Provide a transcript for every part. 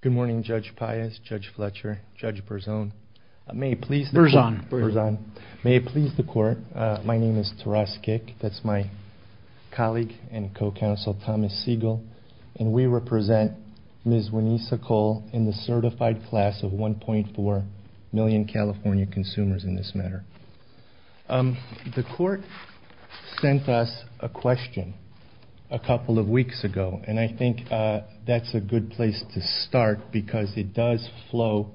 Good morning, Judge Pius, Judge Fletcher, Judge Berzon. May it please the court, my name is Taras Gick, that's my colleague and co-counsel Thomas Siegel, and we represent Ms. Weneesa Cole in the certified class of 1.4 million California consumers in this matter. The court sent us a question a couple of weeks ago, and I think that's a good place to start because it does flow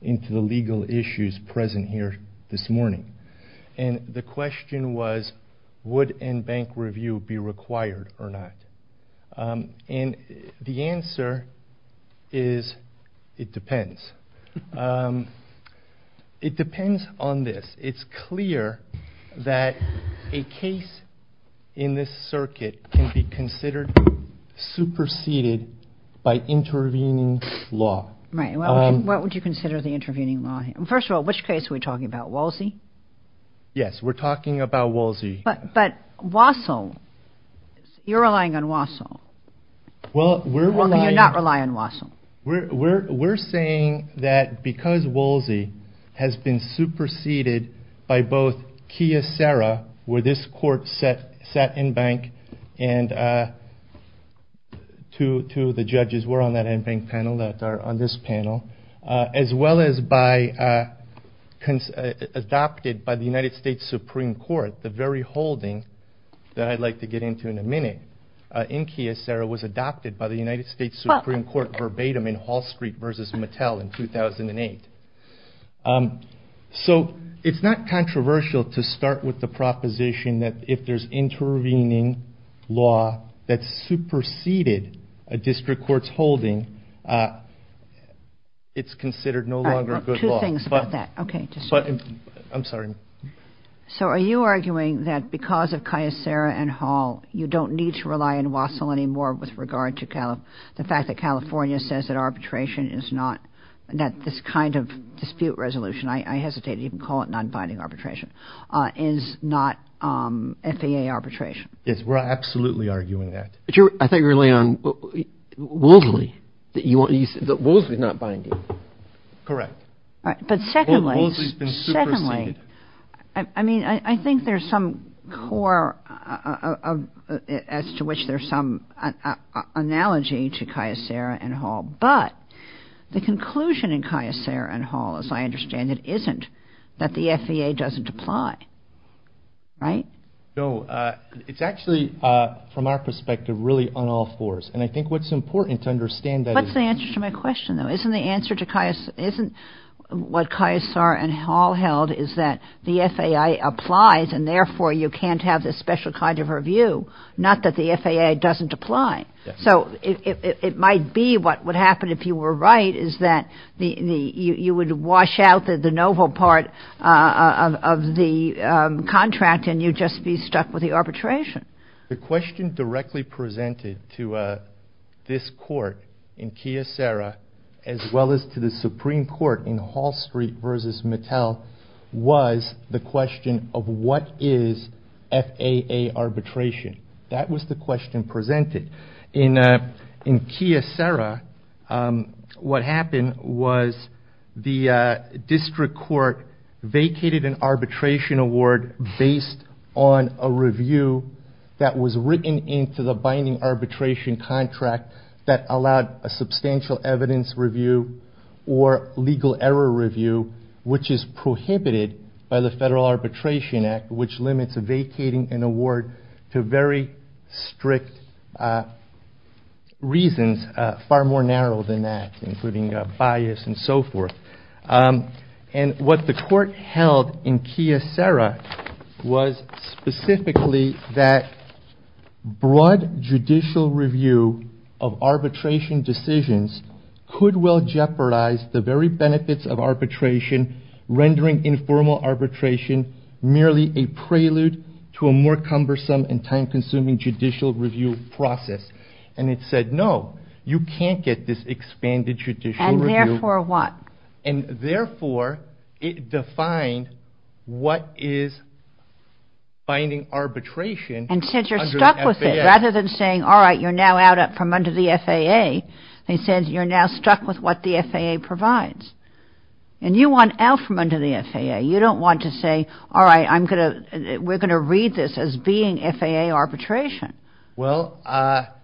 into the legal issues present here this morning. And the question was, would end bank review be required or not? And the answer is, it depends. It depends on this. It's clear that a case in this circuit can be considered superseded by intervening law. Right, what would you consider the intervening law? First of all, which case are we talking about? Wolsey? Yes, we're talking about Wolsey. But Wassil, you're relying on Wassil. Well, we're relying... You're not relying on Wassil. We're saying that because Wolsey has been superseded by both Kyocera, where this court sat in bank, and two of the judges were on that end bank panel that are on this panel, as well as adopted by the United States Supreme Court, the very holding that I'd like to get into in a minute in Kyocera was adopted by the United States Supreme Court verbatim. I mean, Hall Street versus Mattel in 2008. So it's not controversial to start with the proposition that if there's intervening law that's superseded a district court's holding, it's considered no longer good law. Two things about that. I'm sorry. So are you arguing that because of Kyocera and Hall, you don't need to rely on Wassil anymore with regard to the fact that California says that arbitration is not... that this kind of dispute resolution, I hesitate to even call it non-binding arbitration, is not FAA arbitration? Yes, we're absolutely arguing that. I thought you were relying on Wolsey. Wolsey's not binding. Correct. But secondly, I mean, I think there's some core as to which there's some analogy to Kyocera and Hall, but the conclusion in Kyocera and Hall, as I understand it, isn't that the FAA doesn't apply. Right? No, it's actually, from our perspective, really on all fours. And I think what's important to understand... That's the answer to my question, though. Isn't the answer to Kyocera... isn't what Kyocera and Hall held is that the FAA applies and therefore you can't have this special kind of review, not that the FAA doesn't apply. So it might be what would happen if you were right is that you would wash out the novel part of the contract and you'd just be stuck with the arbitration. The question directly presented to this court in Kyocera, as well as to the Supreme Court in Hall Street v. Mattel, was the question of what is FAA arbitration. That was the question presented. In Kyocera, what happened was the district court vacated an arbitration award based on a review that was written into the binding arbitration contract that allowed a substantial evidence review or legal error review, which is prohibited by the Federal Arbitration Act, which limits vacating an award to very strict reasons far more narrow than that, including bias and so forth. And what the court held in Kyocera was specifically that broad judicial review of arbitration decisions could well jeopardize the very benefits of arbitration, rendering informal arbitration merely a prelude to a more cumbersome and time-consuming judicial review process. And it said, no, you can't get this expanded judicial review. And therefore what? And therefore it defined what is binding arbitration under the FAA. And since you're stuck with it, rather than saying, all right, you're now out from under the FAA, it says you're now stuck with what the FAA provides. And you want out from under the FAA. You don't want to say, all right, we're going to read this as being FAA arbitration. Well, that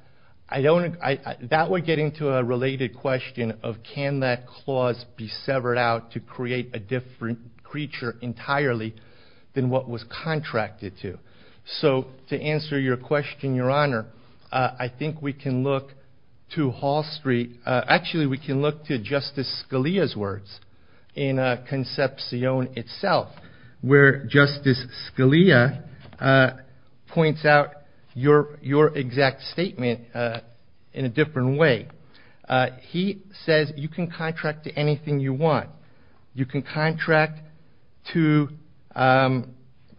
would get into a related question of can that clause be severed out to create a different creature entirely than what was contracted to. So to answer your question, Your Honor, I think we can look to Hall Street. Actually, we can look to Justice Scalia's words in Concepcion itself, where Justice Scalia points out your exact statement in a different way. He says you can contract to anything you want. You can contract to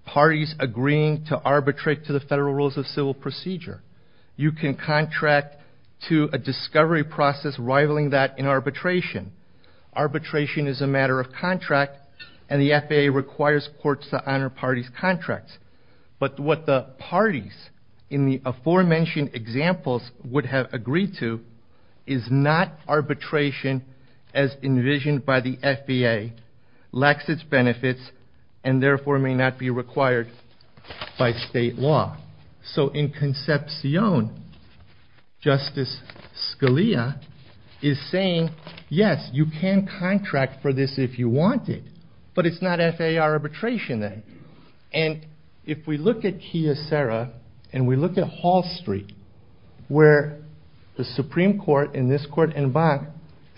parties agreeing to arbitrate to the federal rules of civil procedure. You can contract to a discovery process rivaling that in arbitration. Arbitration is a matter of contract, and the FAA requires courts to honor parties' contracts. But what the parties in the aforementioned examples would have agreed to is not arbitration as envisioned by the FAA, lacks its benefits, and therefore may not be required by state law. So in Concepcion, Justice Scalia is saying, yes, you can contract for this if you want it, but it's not FAA arbitration then. And if we look at Kiyosera and we look at Hall Street, where the Supreme Court in this court and Bank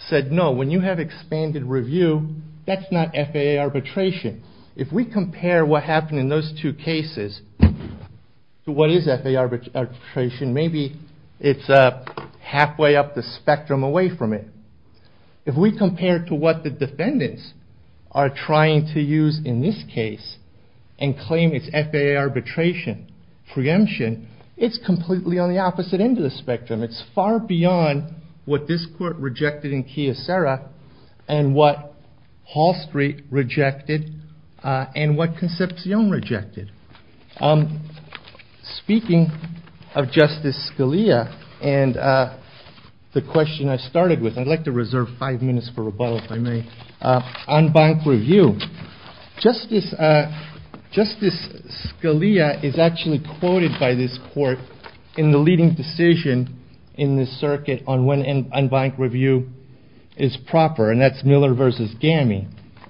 said no, when you have expanded review, that's not FAA arbitration. If we compare what happened in those two cases to what is FAA arbitration, maybe it's halfway up the spectrum away from it. If we compare to what the defendants are trying to use in this case and claim it's FAA arbitration preemption, it's completely on the opposite end of the spectrum. It's far beyond what this court rejected in Kiyosera and what Hall Street rejected and what Concepcion rejected. Speaking of Justice Scalia and the question I started with, I'd like to reserve five minutes for rebuttal if I may. On bank review, Justice Scalia is actually quoted by this court in the leading decision in this circuit on when bank review is proper, and that's Miller v. Gammy.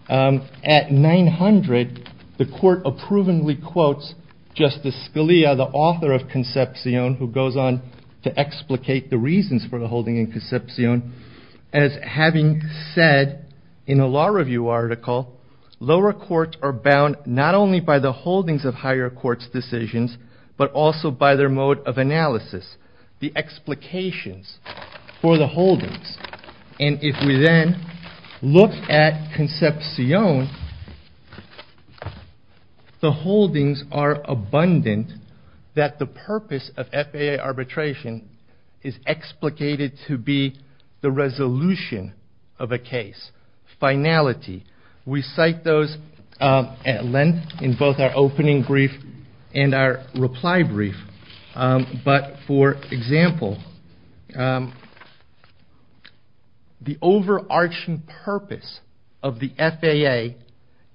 At 900, the court approvingly quotes Justice Scalia, the author of Concepcion, who goes on to explicate the reasons for the holding in Concepcion, as having said in a law review article, lower courts are bound not only by the holdings of higher courts' decisions, but also by their mode of analysis, the explications for the holdings. If we then look at Concepcion, the holdings are abundant that the purpose of FAA arbitration is explicated to be the resolution of a case, finality. We cite those at length in both our opening brief and our reply brief, but for example, the overarching purpose of the FAA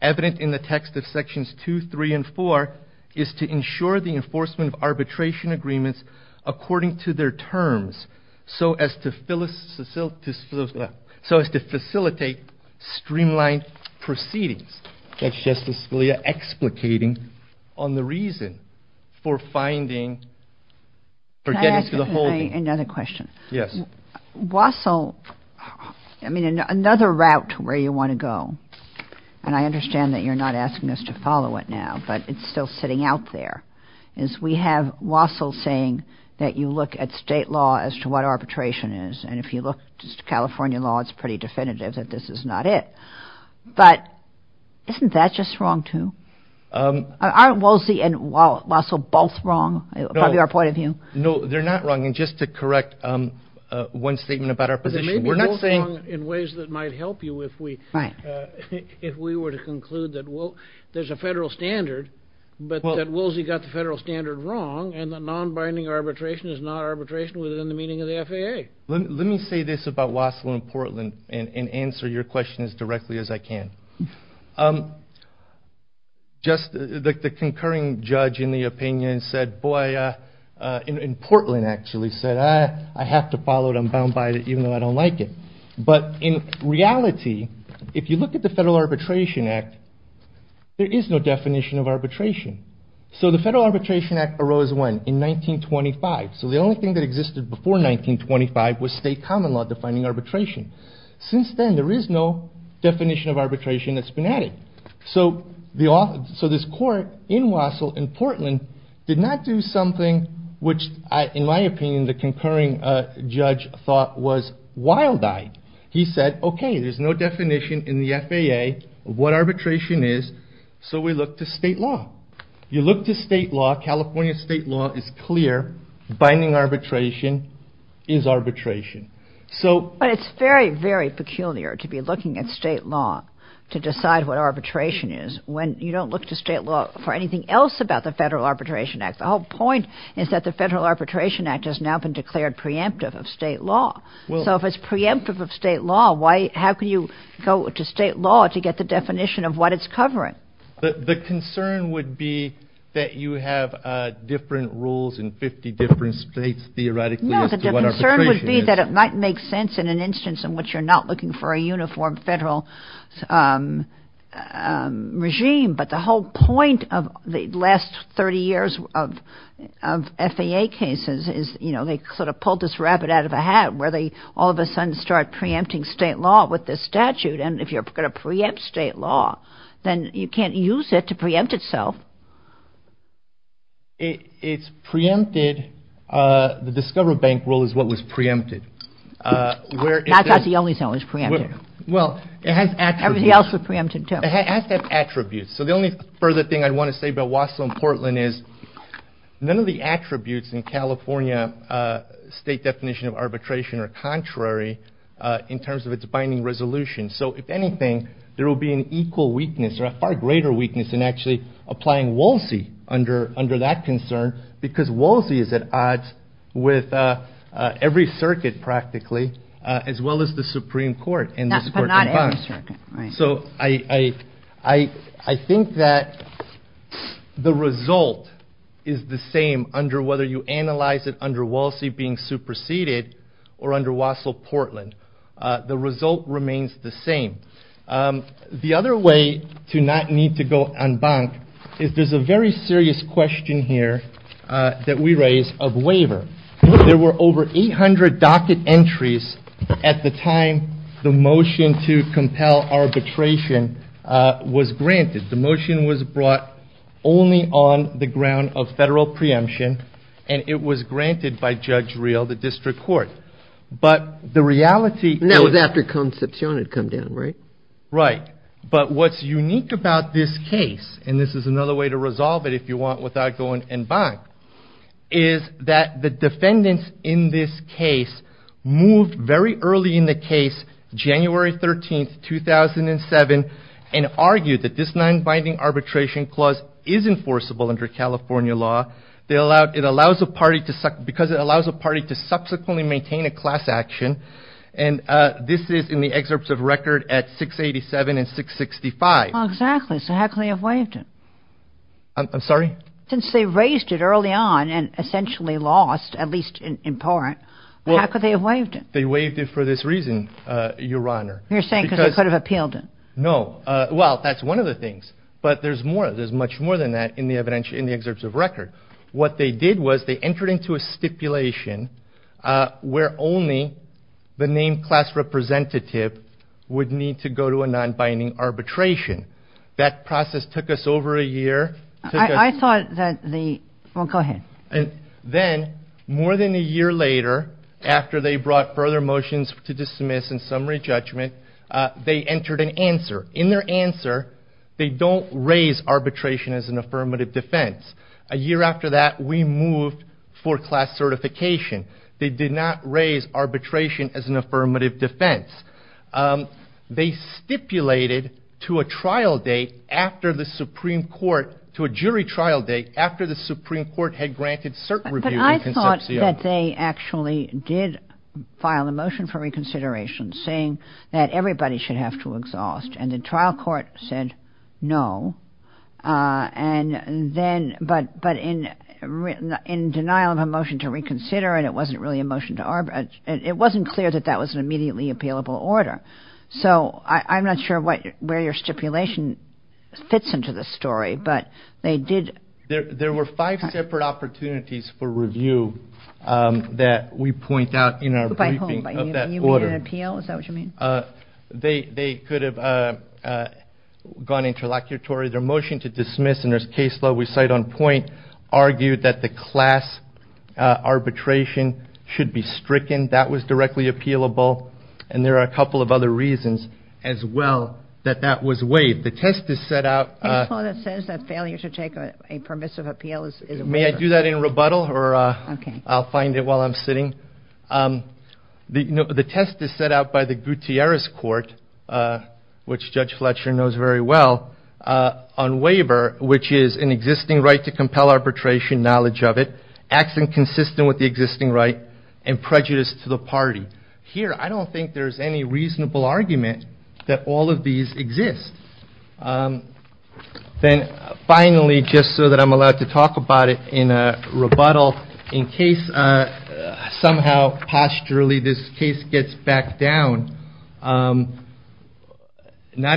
evident in the text of sections 2, 3, and 4 is to ensure the enforcement of arbitration agreements according to their terms so as to facilitate streamlined proceedings. That's Justice Scalia explicating on the reason for finding, for getting to the holding. Another question. Wassell, I mean, another route to where you want to go, and I understand that you're not asking us to follow it now, but it's still sitting out there, is we have Wassell saying that you look at state law as to what arbitration is, and if you look at California law, it's pretty definitive that this is not it. But isn't that just wrong, too? Aren't Woolsey and Wassell both wrong, from your point of view? No, they're not wrong, and just to correct one statement about our position. They may be both wrong in ways that might help you if we were to conclude that there's a federal standard, but that Woolsey got the federal standard wrong, and that non-binding arbitration is not arbitration within the meaning of the FAA. Let me say this about Wassell and Portland and answer your question as directly as I can. Just the concurring judge in the opinion said, boy, and Portland actually said, I have to follow it, I'm bound by it, even though I don't like it. But in reality, if you look at the Federal Arbitration Act, there is no definition of arbitration. So the Federal Arbitration Act arose when? In 1925. So the only thing that existed before 1925 was state common law defining arbitration. Since then, there is no definition of arbitration that's been added. So this court in Wassell and Portland did not do something which, in my opinion, the concurring judge thought was wild-eyed. He said, okay, there's no definition in the FAA of what arbitration is, so we look to state law. You look to state law, California state law is clear, binding arbitration is arbitration. But it's very, very peculiar to be looking at state law to decide what arbitration is when you don't look to state law for anything else about the Federal Arbitration Act. The whole point is that the Federal Arbitration Act has now been declared preemptive of state law. So if it's preemptive of state law, how can you go to state law to get the definition of what it's covering? The concern would be that you have different rules in 50 different states theoretically as to what arbitration is. The concern would be that it might make sense in an instance in which you're not looking for a uniform federal regime. But the whole point of the last 30 years of FAA cases is, you know, they sort of pulled this rabbit out of a hat, where they all of a sudden start preempting state law with this statute. And if you're going to preempt state law, then you can't use it to preempt itself. It's preempted. The Discover Bank rule is what was preempted. That's not the only thing that was preempted. Well, it has attributes. Everything else was preempted, too. It has to have attributes. So the only further thing I want to say about Wausau and Portland is, none of the attributes in California state definition of arbitration are contrary in terms of its binding resolution. So if anything, there will be an equal weakness or a far greater weakness in actually applying WALSEI under that concern, because WALSEI is at odds with every circuit practically, as well as the Supreme Court. But not every circuit, right. So I think that the result is the same under whether you analyze it under WALSEI being superseded or under Wausau-Portland. The result remains the same. The other way to not need to go en banc is there's a very serious question here that we raise of waiver. There were over 800 docket entries at the time the motion to compel arbitration was granted. The motion was brought only on the ground of federal preemption, and it was granted by Judge Reel, the district court. But the reality... That was after Concepcion had come down, right? Right. But what's unique about this case, and this is another way to resolve it, if you want, without going en banc, is that the defendants in this case moved very early in the case, January 13, 2007, and argued that this non-binding arbitration clause is enforceable under California law. Because it allows a party to subsequently maintain a class action, and this is in the excerpts of record at 687 and 665. Exactly. So how could they have waived it? I'm sorry? Since they raised it early on and essentially lost, at least in part, how could they have waived it? They waived it for this reason, Your Honor. You're saying because they could have appealed it. No. Well, that's one of the things. But there's much more than that in the excerpts of record. What they did was they entered into a stipulation where only the named class representative would need to go to a non-binding arbitration. That process took us over a year. I thought that the... Well, go ahead. Then, more than a year later, after they brought further motions to dismiss and summary judgment, they entered an answer. In their answer, they don't raise arbitration as an affirmative defense. A year after that, we moved for class certification. They did not raise arbitration as an affirmative defense. They stipulated to a trial date after the Supreme Court, to a jury trial date after the Supreme Court had granted cert review in Concepcion. I thought that they actually did file a motion for reconsideration saying that everybody should have to exhaust. And the trial court said no. But in denial of a motion to reconsider, and it wasn't really a motion to arbitrate, it wasn't clear that that was an immediately appealable order. So I'm not sure where your stipulation fits into this story, but they did... There were five separate opportunities for review that we point out in our briefing of that order. You mean an appeal? Is that what you mean? They could have gone interlocutory. Their motion to dismiss, and there's case law we cite on point, argued that the class arbitration should be stricken. That was directly appealable. And there are a couple of other reasons as well that that was waived. The test is set out... May I do that in rebuttal, or I'll find it while I'm sitting? The test is set out by the Gutierrez Court, which Judge Fletcher knows very well, on waiver, which is an existing right to compel arbitration, knowledge of it, acts inconsistent with the existing right, and prejudice to the party. Here, I don't think there's any reasonable argument that all of these exist. Then finally, just so that I'm allowed to talk about it in rebuttal, in case somehow, pasturally, this case gets back down, not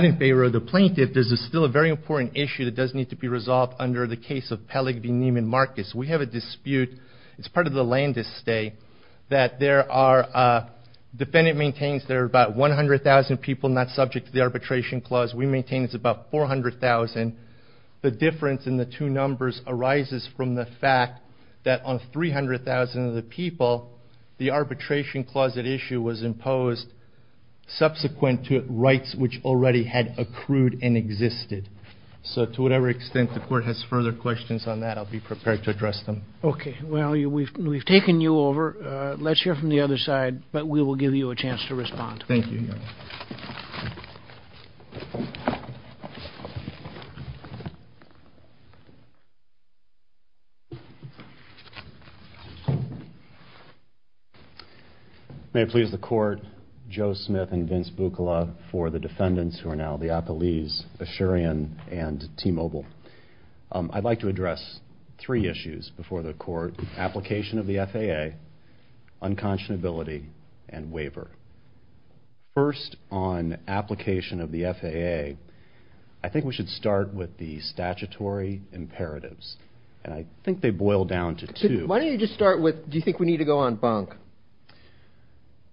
in favor of the plaintiff, this is still a very important issue that does need to be resolved under the case of Peleg v. Neiman Marcus. We have a dispute. It's part of the Landis stay that there are... The defendant maintains there are about 100,000 people not subject to the arbitration clause. We maintain it's about 400,000. The difference in the two numbers arises from the fact that on 300,000 of the people, the arbitration clause at issue was imposed subsequent to rights which already had accrued and existed. So to whatever extent the Court has further questions on that, I'll be prepared to address them. Okay. Well, we've taken you over. Let's hear from the other side, but we will give you a chance to respond. Thank you, Your Honor. May it please the Court, Joe Smith and Vince Bucola for the defendants who are now the Appellees, Asherian and T-Mobile. I'd like to address three issues before the Court. Application of the FAA, unconscionability and waiver. First on application of the FAA, I think we should start with the statutory imperatives. And I think they boil down to two. Why don't you just start with do you think we need to go on bunk?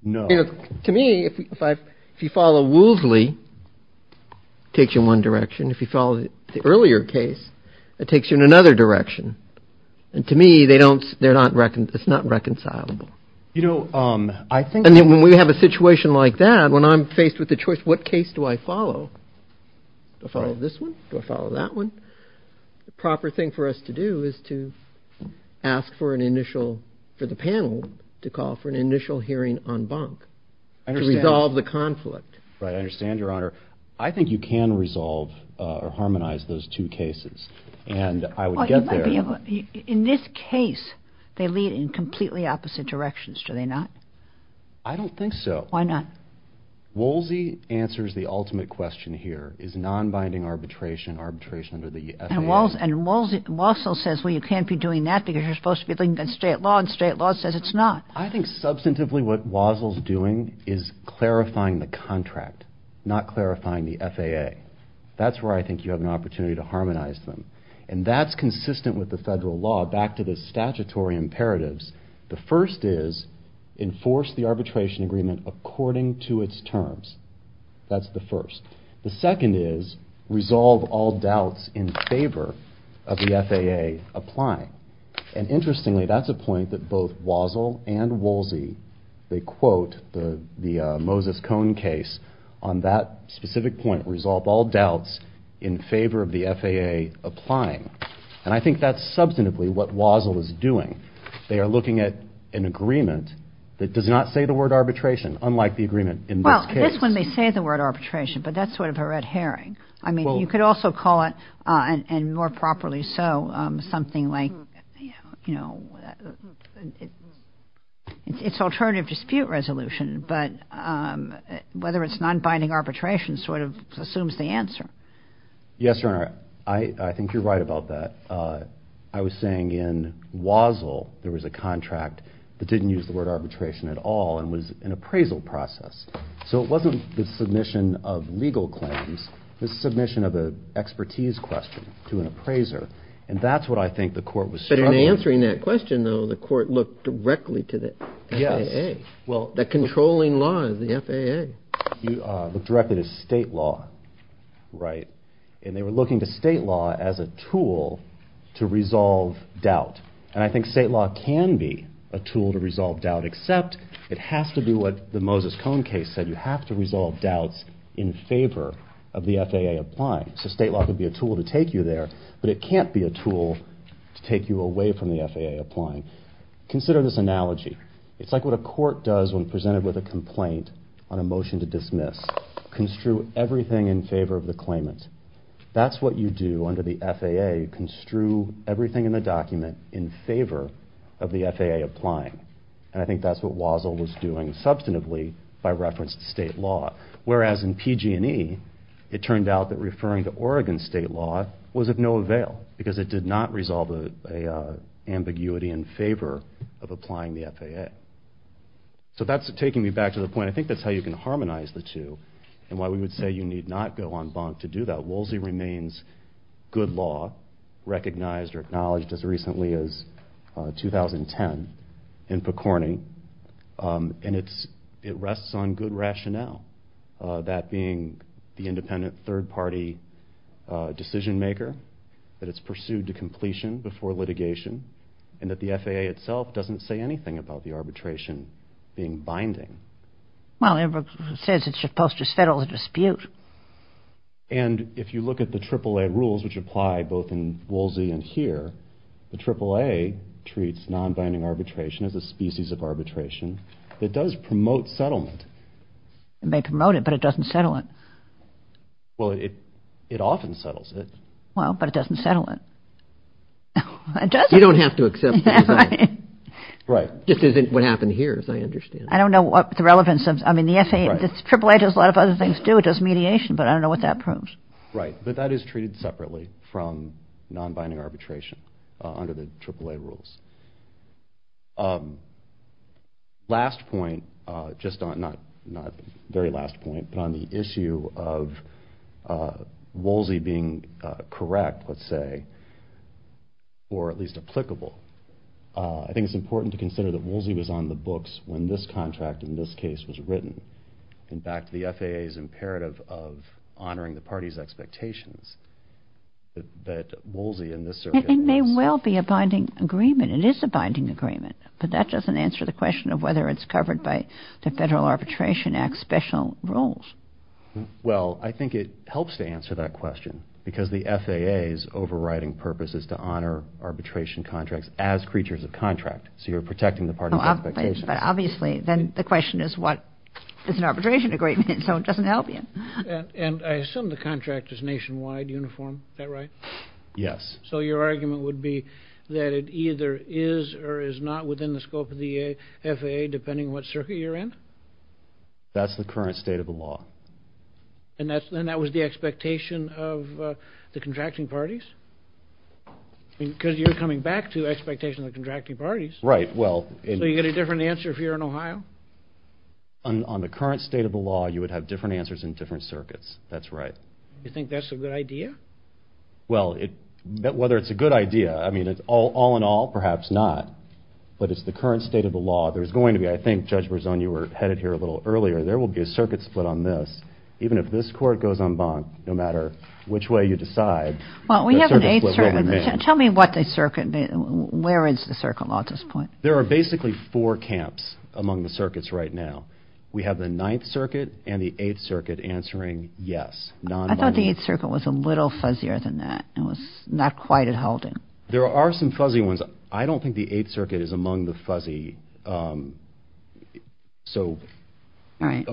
No. To me, if you follow Woolsey, it takes you in one direction. If you follow the earlier case, it takes you in another direction. And to me, it's not reconcilable. And when we have a situation like that, when I'm faced with the choice, what case do I follow? Do I follow this one? Do I follow that one? The proper thing for us to do is to ask for an initial, for the panel to call for an initial hearing on bunk to resolve the conflict. Right. I understand, Your Honor. I think you can resolve or harmonize those two cases. And I would get there. In this case, they lead in completely opposite directions, do they not? I don't think so. Why not? Woolsey answers the ultimate question here, is non-binding arbitration, arbitration under the FAA. And Walsall says, well, you can't be doing that because you're supposed to be looking at state law, and state law says it's not. I think substantively what Walsall's doing is clarifying the contract, not clarifying the FAA. That's where I think you have an opportunity to harmonize them. And that's consistent with the federal law, back to the statutory imperatives. The first is enforce the arbitration agreement according to its terms. That's the first. The second is resolve all doubts in favor of the FAA applying. And interestingly, that's a point that both Walsall and Woolsey, they quote the Moses Cone case on that specific point, resolve all doubts in favor of the FAA applying. And I think that's substantively what Walsall is doing. They are looking at an agreement that does not say the word arbitration, unlike the agreement in this case. Well, it is when they say the word arbitration, but that's sort of a red herring. I mean, you could also call it, and more properly so, something like, you know, it's alternative dispute resolution, but whether it's non-binding arbitration sort of assumes the answer. Yes, Your Honor, I think you're right about that. I was saying in Walsall there was a contract that didn't use the word arbitration at all and was an appraisal process. So it wasn't the submission of legal claims. It was the submission of an expertise question to an appraiser. And that's what I think the court was struggling with. But in answering that question, though, the court looked directly to the FAA. Well, the controlling law is the FAA. Looked directly to state law, right? And they were looking to state law as a tool to resolve doubt. And I think state law can be a tool to resolve doubt, except it has to do what the Moses Cone case said. You have to resolve doubts in favor of the FAA applying. So state law could be a tool to take you there, but it can't be a tool to take you away from the FAA applying. Consider this analogy. It's like what a court does when presented with a complaint on a motion to dismiss. Construe everything in favor of the claimant. That's what you do under the FAA. You construe everything in the document in favor of the FAA applying. And I think that's what Walsall was doing substantively by reference to state law. Whereas in PG&E, it turned out that referring to Oregon state law was of no avail because it did not resolve an ambiguity in favor of applying the FAA. So that's taking me back to the point. I think that's how you can harmonize the two and why we would say you need not go en banc to do that. Woolsey remains good law, recognized or acknowledged as recently as 2010 in PCORNY. And it rests on good rationale. That being the independent third party decision maker, that it's pursued to completion before litigation, and that the FAA itself doesn't say anything about the arbitration being binding. Well, it says it's supposed to settle the dispute. And if you look at the AAA rules which apply both in Woolsey and here, the AAA treats non-binding arbitration as a species of arbitration that does promote settlement. It may promote it, but it doesn't settle it. Well, it often settles it. Well, but it doesn't settle it. It doesn't. You don't have to accept it. Right. Just isn't what happened here, as I understand. I don't know what the relevance of, I mean, the FAA, the AAA does a lot of other things too. It does mediation, but I don't know what that proves. Right. But that is treated separately from non-binding arbitration under the AAA rules. Last point, just on, not the very last point, but on the issue of Woolsey being correct, let's say, or at least applicable. I think it's important to consider that Woolsey was on the books when this contract, in this case, was written. In fact, the FAA's imperative of honoring the party's expectations that Woolsey in this circuit was. It may well be a binding agreement. It is a binding agreement, but that doesn't answer the question of whether it's covered by the Federal Arbitration Act special rules. Well, I think it helps to answer that question because the FAA's overriding purpose is to honor arbitration contracts as creatures of contract. So you're protecting the party's expectations. But obviously, then the question is what does an arbitration agreement mean? So it doesn't help you. And I assume the contract is nationwide uniform. Is that right? Yes. So your argument would be that it either is or is not within the scope of the FAA, depending on what circuit you're in? That's the current state of the law. And that was the expectation of the contracting parties? Because you're coming back to expectations of the contracting parties. Right. So you get a different answer if you're in Ohio? On the current state of the law, you would have different answers in different circuits. That's right. You think that's a good idea? Well, whether it's a good idea, I mean, all in all, perhaps not. But it's the current state of the law. There's going to be, I think, Judge Berzon, you were headed here a little earlier, there will be a circuit split on this. Even if this court goes en banc, no matter which way you decide. Well, we have an eighth circuit. Tell me what the circuit, where is the circuit law at this point? There are basically four camps among the circuits right now. We have the Ninth Circuit and the Eighth Circuit answering yes. I thought the Eighth Circuit was a little fuzzier than that. It was not quite at holding. There are some fuzzy ones. I don't think the Eighth Circuit is among the fuzzy. So on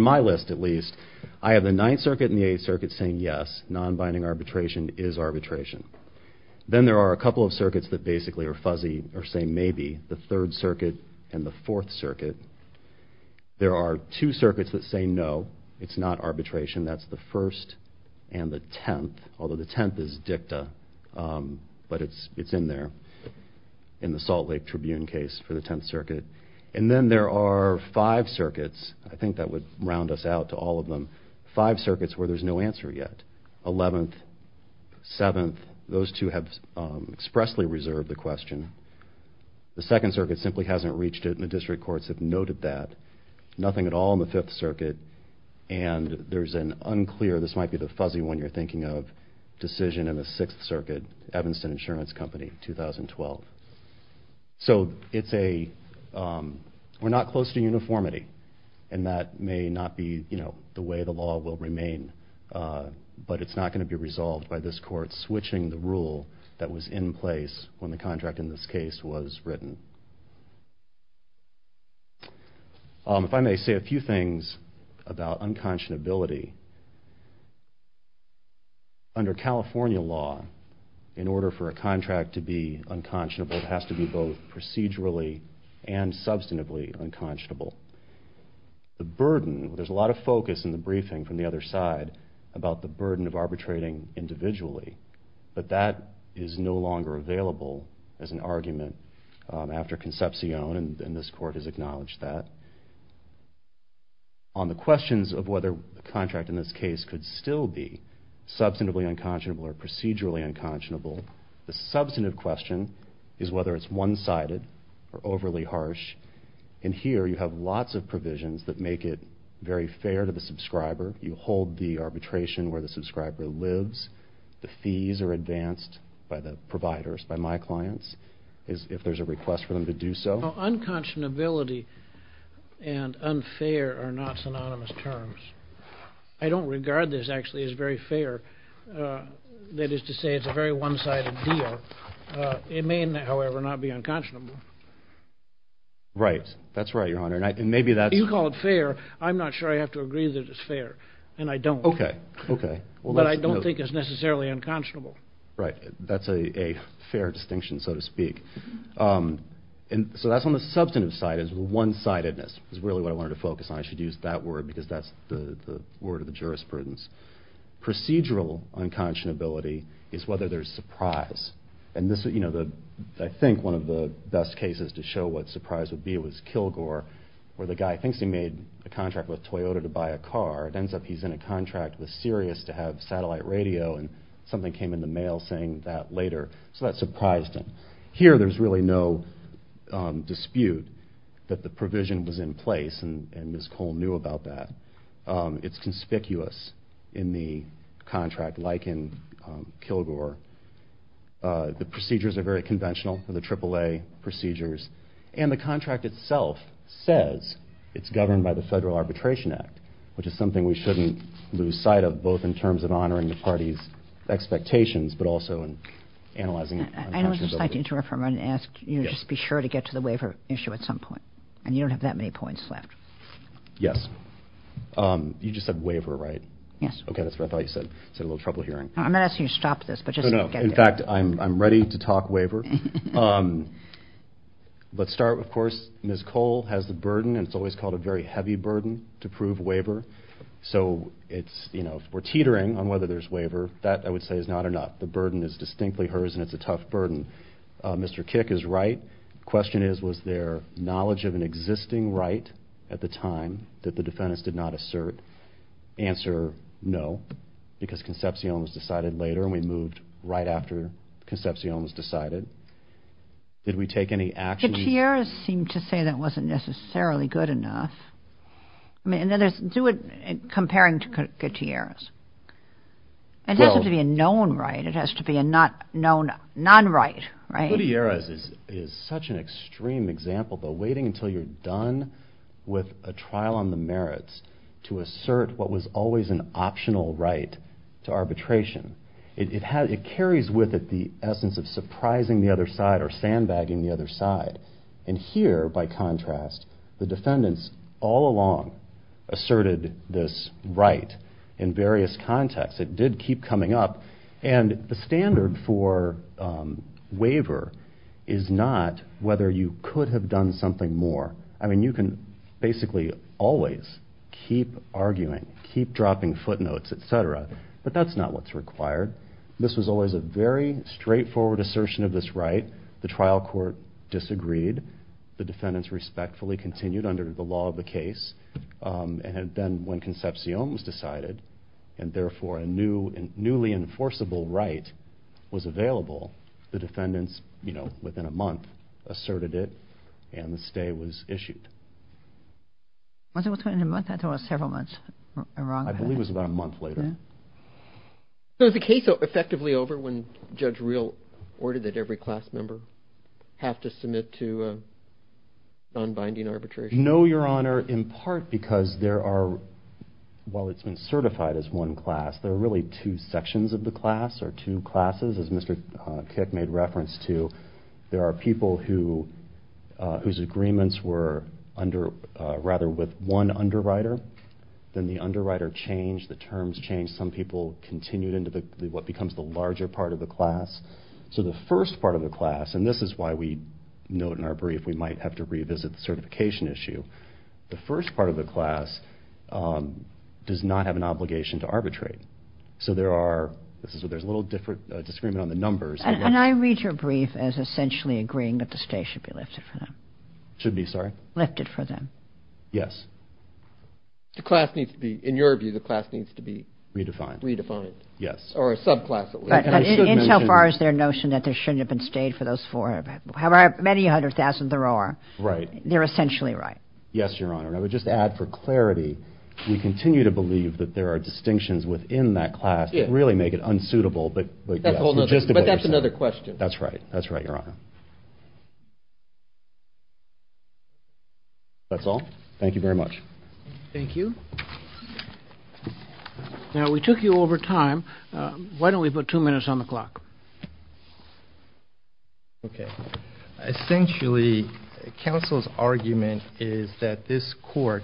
my list, at least, I have the Ninth Circuit and the Eighth Circuit saying yes, non-binding arbitration is arbitration. Then there are a couple of circuits that basically are fuzzy, or say maybe, the Third Circuit and the Fourth Circuit. There are two circuits that say no, it's not arbitration. That's the First and the Tenth, although the Tenth is dicta. But it's in there in the Salt Lake Tribune case for the Tenth Circuit. And then there are five circuits, I think that would round us out to all of them, five circuits where there's no answer yet. Eleventh, Seventh, those two have expressly reserved the question. The Second Circuit simply hasn't reached it, and the district courts have noted that. Nothing at all in the Fifth Circuit, and there's an unclear, this might be the fuzzy one you're thinking of, decision in the Sixth Circuit, Evanston Insurance Company, 2012. So we're not close to uniformity, and that may not be the way the law will remain, but it's not going to be resolved by this Court switching the rule that was in place when the contract in this case was written. If I may say a few things about unconscionability. Under California law, in order for a contract to be unconscionable, it has to be both procedurally and substantively unconscionable. The burden, there's a lot of focus in the briefing from the other side about the burden of arbitrating individually, but that is no longer available as an argument after Concepcion, and this Court has acknowledged that. On the questions of whether the contract in this case could still be substantively unconscionable or procedurally unconscionable, the substantive question is whether it's one-sided or overly harsh, and here you have lots of provisions that make it very fair to the subscriber. You hold the arbitration where the subscriber lives. The fees are advanced by the providers, by my clients, if there's a request for them to do so. Unconscionability and unfair are not synonymous terms. I don't regard this actually as very fair, that is to say it's a very one-sided deal. It may, however, not be unconscionable. Right. That's right, Your Honor, and maybe that's... However, I'm not sure I have to agree that it's fair, and I don't. Okay, okay. But I don't think it's necessarily unconscionable. Right. That's a fair distinction, so to speak. So that's on the substantive side, is one-sidedness is really what I wanted to focus on. I should use that word because that's the word of the jurisprudence. Procedural unconscionability is whether there's surprise, and I think one of the best cases to show what surprise would be was Kilgore, where the guy thinks he made a contract with Toyota to buy a car. It ends up he's in a contract with Sirius to have satellite radio, and something came in the mail saying that later, so that surprised him. Here there's really no dispute that the provision was in place, and Ms. Cole knew about that. It's conspicuous in the contract, like in Kilgore. The procedures are very conventional, the AAA procedures, and the contract itself says it's governed by the Federal Arbitration Act, which is something we shouldn't lose sight of, both in terms of honoring the party's expectations, but also in analyzing unconscionability. I would just like to interrupt for a moment and ask you to just be sure to get to the waiver issue at some point, and you don't have that many points left. Yes. You just said waiver, right? Yes. Okay, that's what I thought you said. I had a little trouble hearing. I'm not asking you to stop this, but just to get there. In fact, I'm ready to talk waiver. Let's start, of course, Ms. Cole has the burden, and it's always called a very heavy burden, to prove waiver. So if we're teetering on whether there's waiver, that, I would say, is not enough. The burden is distinctly hers, and it's a tough burden. Mr. Kick is right. The question is, was there knowledge of an existing right at the time that the defendants did not assert? Answer, no, because Concepcion was decided later, and we moved right after Concepcion was decided. Did we take any action? Gutierrez seemed to say that wasn't necessarily good enough. I mean, do it comparing to Gutierrez. It doesn't have to be a known right. It has to be a known non-right, right? Gutierrez is such an extreme example, but waiting until you're done with a trial on the merits to assert what was always an optional right to arbitration. It carries with it the essence of surprising the other side or sandbagging the other side. And here, by contrast, the defendants all along asserted this right in various contexts. It did keep coming up, and the standard for waiver is not whether you could have done something more. I mean, you can basically always keep arguing, keep dropping footnotes, et cetera, but that's not what's required. This was always a very straightforward assertion of this right. The trial court disagreed. The defendants respectfully continued under the law of the case. And then when Concepcion was decided, and therefore a newly enforceable right was available, the defendants, you know, within a month asserted it, and the stay was issued. Was it within a month? I thought it was several months. I believe it was about a month later. So is the case effectively over when Judge Reel ordered that every class member have to submit to non-binding arbitration? No, Your Honor, in part because there are, while it's been certified as one class, there are really two sections of the class or two classes, as Mr. Kick made reference to. There are people whose agreements were rather with one underwriter. Then the underwriter changed. The terms changed. Some people continued into what becomes the larger part of the class. So the first part of the class, and this is why we note in our brief we might have to revisit the certification issue. The first part of the class does not have an obligation to arbitrate. So there are, this is where there's a little disagreement on the numbers. And I read your brief as essentially agreeing that the stay should be lifted for them. Should be, sorry? Lifted for them. Yes. The class needs to be, in your view, the class needs to be? Redefined. Redefined. Yes. Or a subclass at least. Insofar as their notion that there shouldn't have been stayed for those four, however many hundred thousand there are. Right. They're essentially right. Yes, Your Honor. And I would just add for clarity, we continue to believe that there are distinctions within that class that really make it unsuitable. But that's another question. That's right. That's right, Your Honor. That's all. Thank you very much. Thank you. Now, we took you over time. Why don't we put two minutes on the clock? Okay. Essentially, counsel's argument is that this court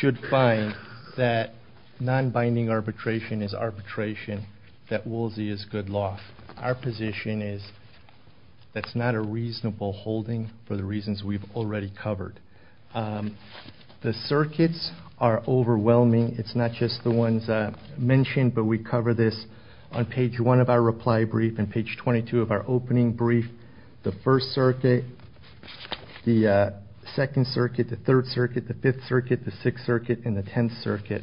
should find that non-binding arbitration is arbitration, that Woolsey is good law. Our position is that's not a reasonable holding for the reasons we've already covered. The circuits are overwhelming. It's not just the ones mentioned, but we cover this on page one of our reply brief and page 22 of our opening brief. The First Circuit, the Second Circuit, the Third Circuit, the Fifth Circuit, the Sixth Circuit, and the Tenth Circuit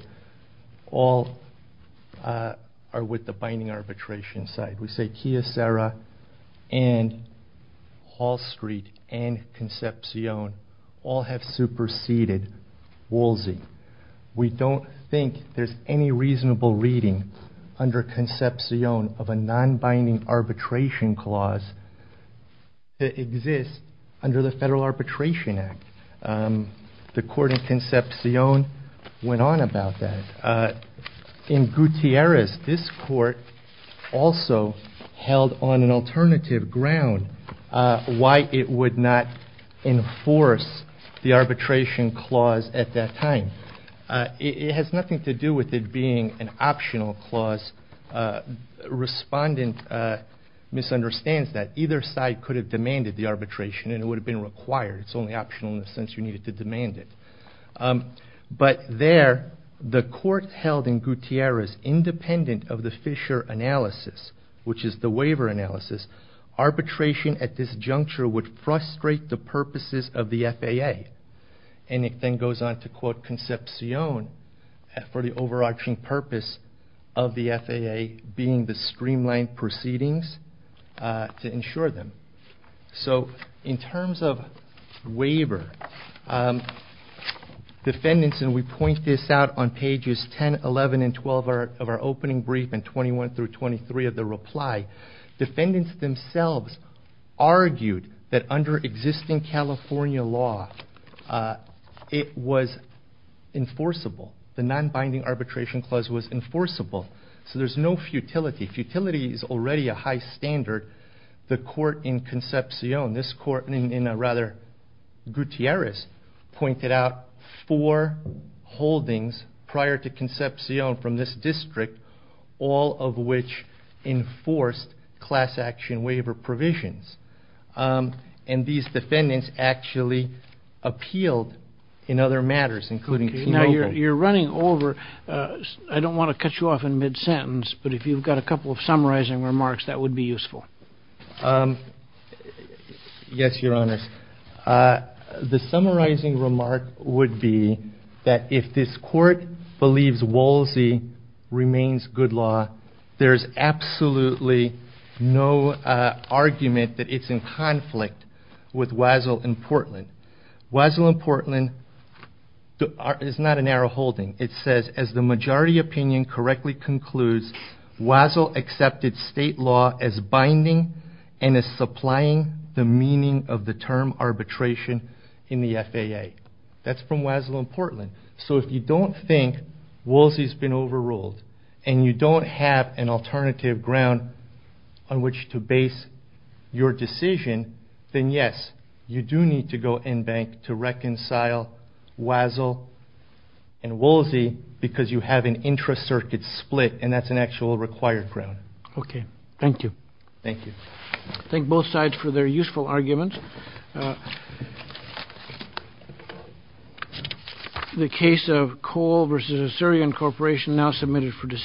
all are with the binding arbitration side. We say Chiesera and Hall Street and Concepcion all have superseded Woolsey. We don't think there's any reasonable reading under Concepcion of a non-binding arbitration clause that exists under the Federal Arbitration Act. The court in Concepcion went on about that. In Gutierrez, this court also held on an alternative ground why it would not enforce the arbitration clause at that time. It has nothing to do with it being an optional clause. Respondent misunderstands that. Either side could have demanded the arbitration and it would have been required. It's only optional in the sense you needed to demand it. But there, the court held in Gutierrez, independent of the Fisher analysis, which is the waiver analysis, arbitration at this juncture would frustrate the purposes of the FAA. It then goes on to quote Concepcion for the overarching purpose of the FAA being the streamlined proceedings to ensure them. So in terms of waiver, defendants, and we point this out on pages 10, 11, and 12 of our opening brief and 21 through 23 of the reply, defendants themselves argued that under existing California law, it was enforceable. The non-binding arbitration clause was enforceable. So there's no futility. Futility is already a high standard. The court in Concepcion, this court in rather Gutierrez, pointed out four holdings prior to Concepcion from this district, all of which enforced class action waiver provisions. And these defendants actually appealed in other matters, including team over. You're running over. I don't want to cut you off in mid-sentence, but if you've got a couple of summarizing remarks, that would be useful. Yes, Your Honors. The summarizing remark would be that if this court believes Woolsey remains good law, there's absolutely no argument that it's in conflict with Wazzell and Portland. Wazzell and Portland is not a narrow holding. It says, as the majority opinion correctly concludes, Wazzell accepted state law as binding and as supplying the meaning of the term arbitration in the FAA. That's from Wazzell and Portland. So if you don't think Woolsey's been overruled and you don't have an alternative ground on which to base your decision, then yes, you do need to go in bank to reconcile Wazzell and Woolsey because you have an intracircuit split, and that's an actual required ground. Okay. Thank you. Thank you. Thank both sides for their useful arguments. The case of Cole v. Assyrian Corporation now submitted for decision.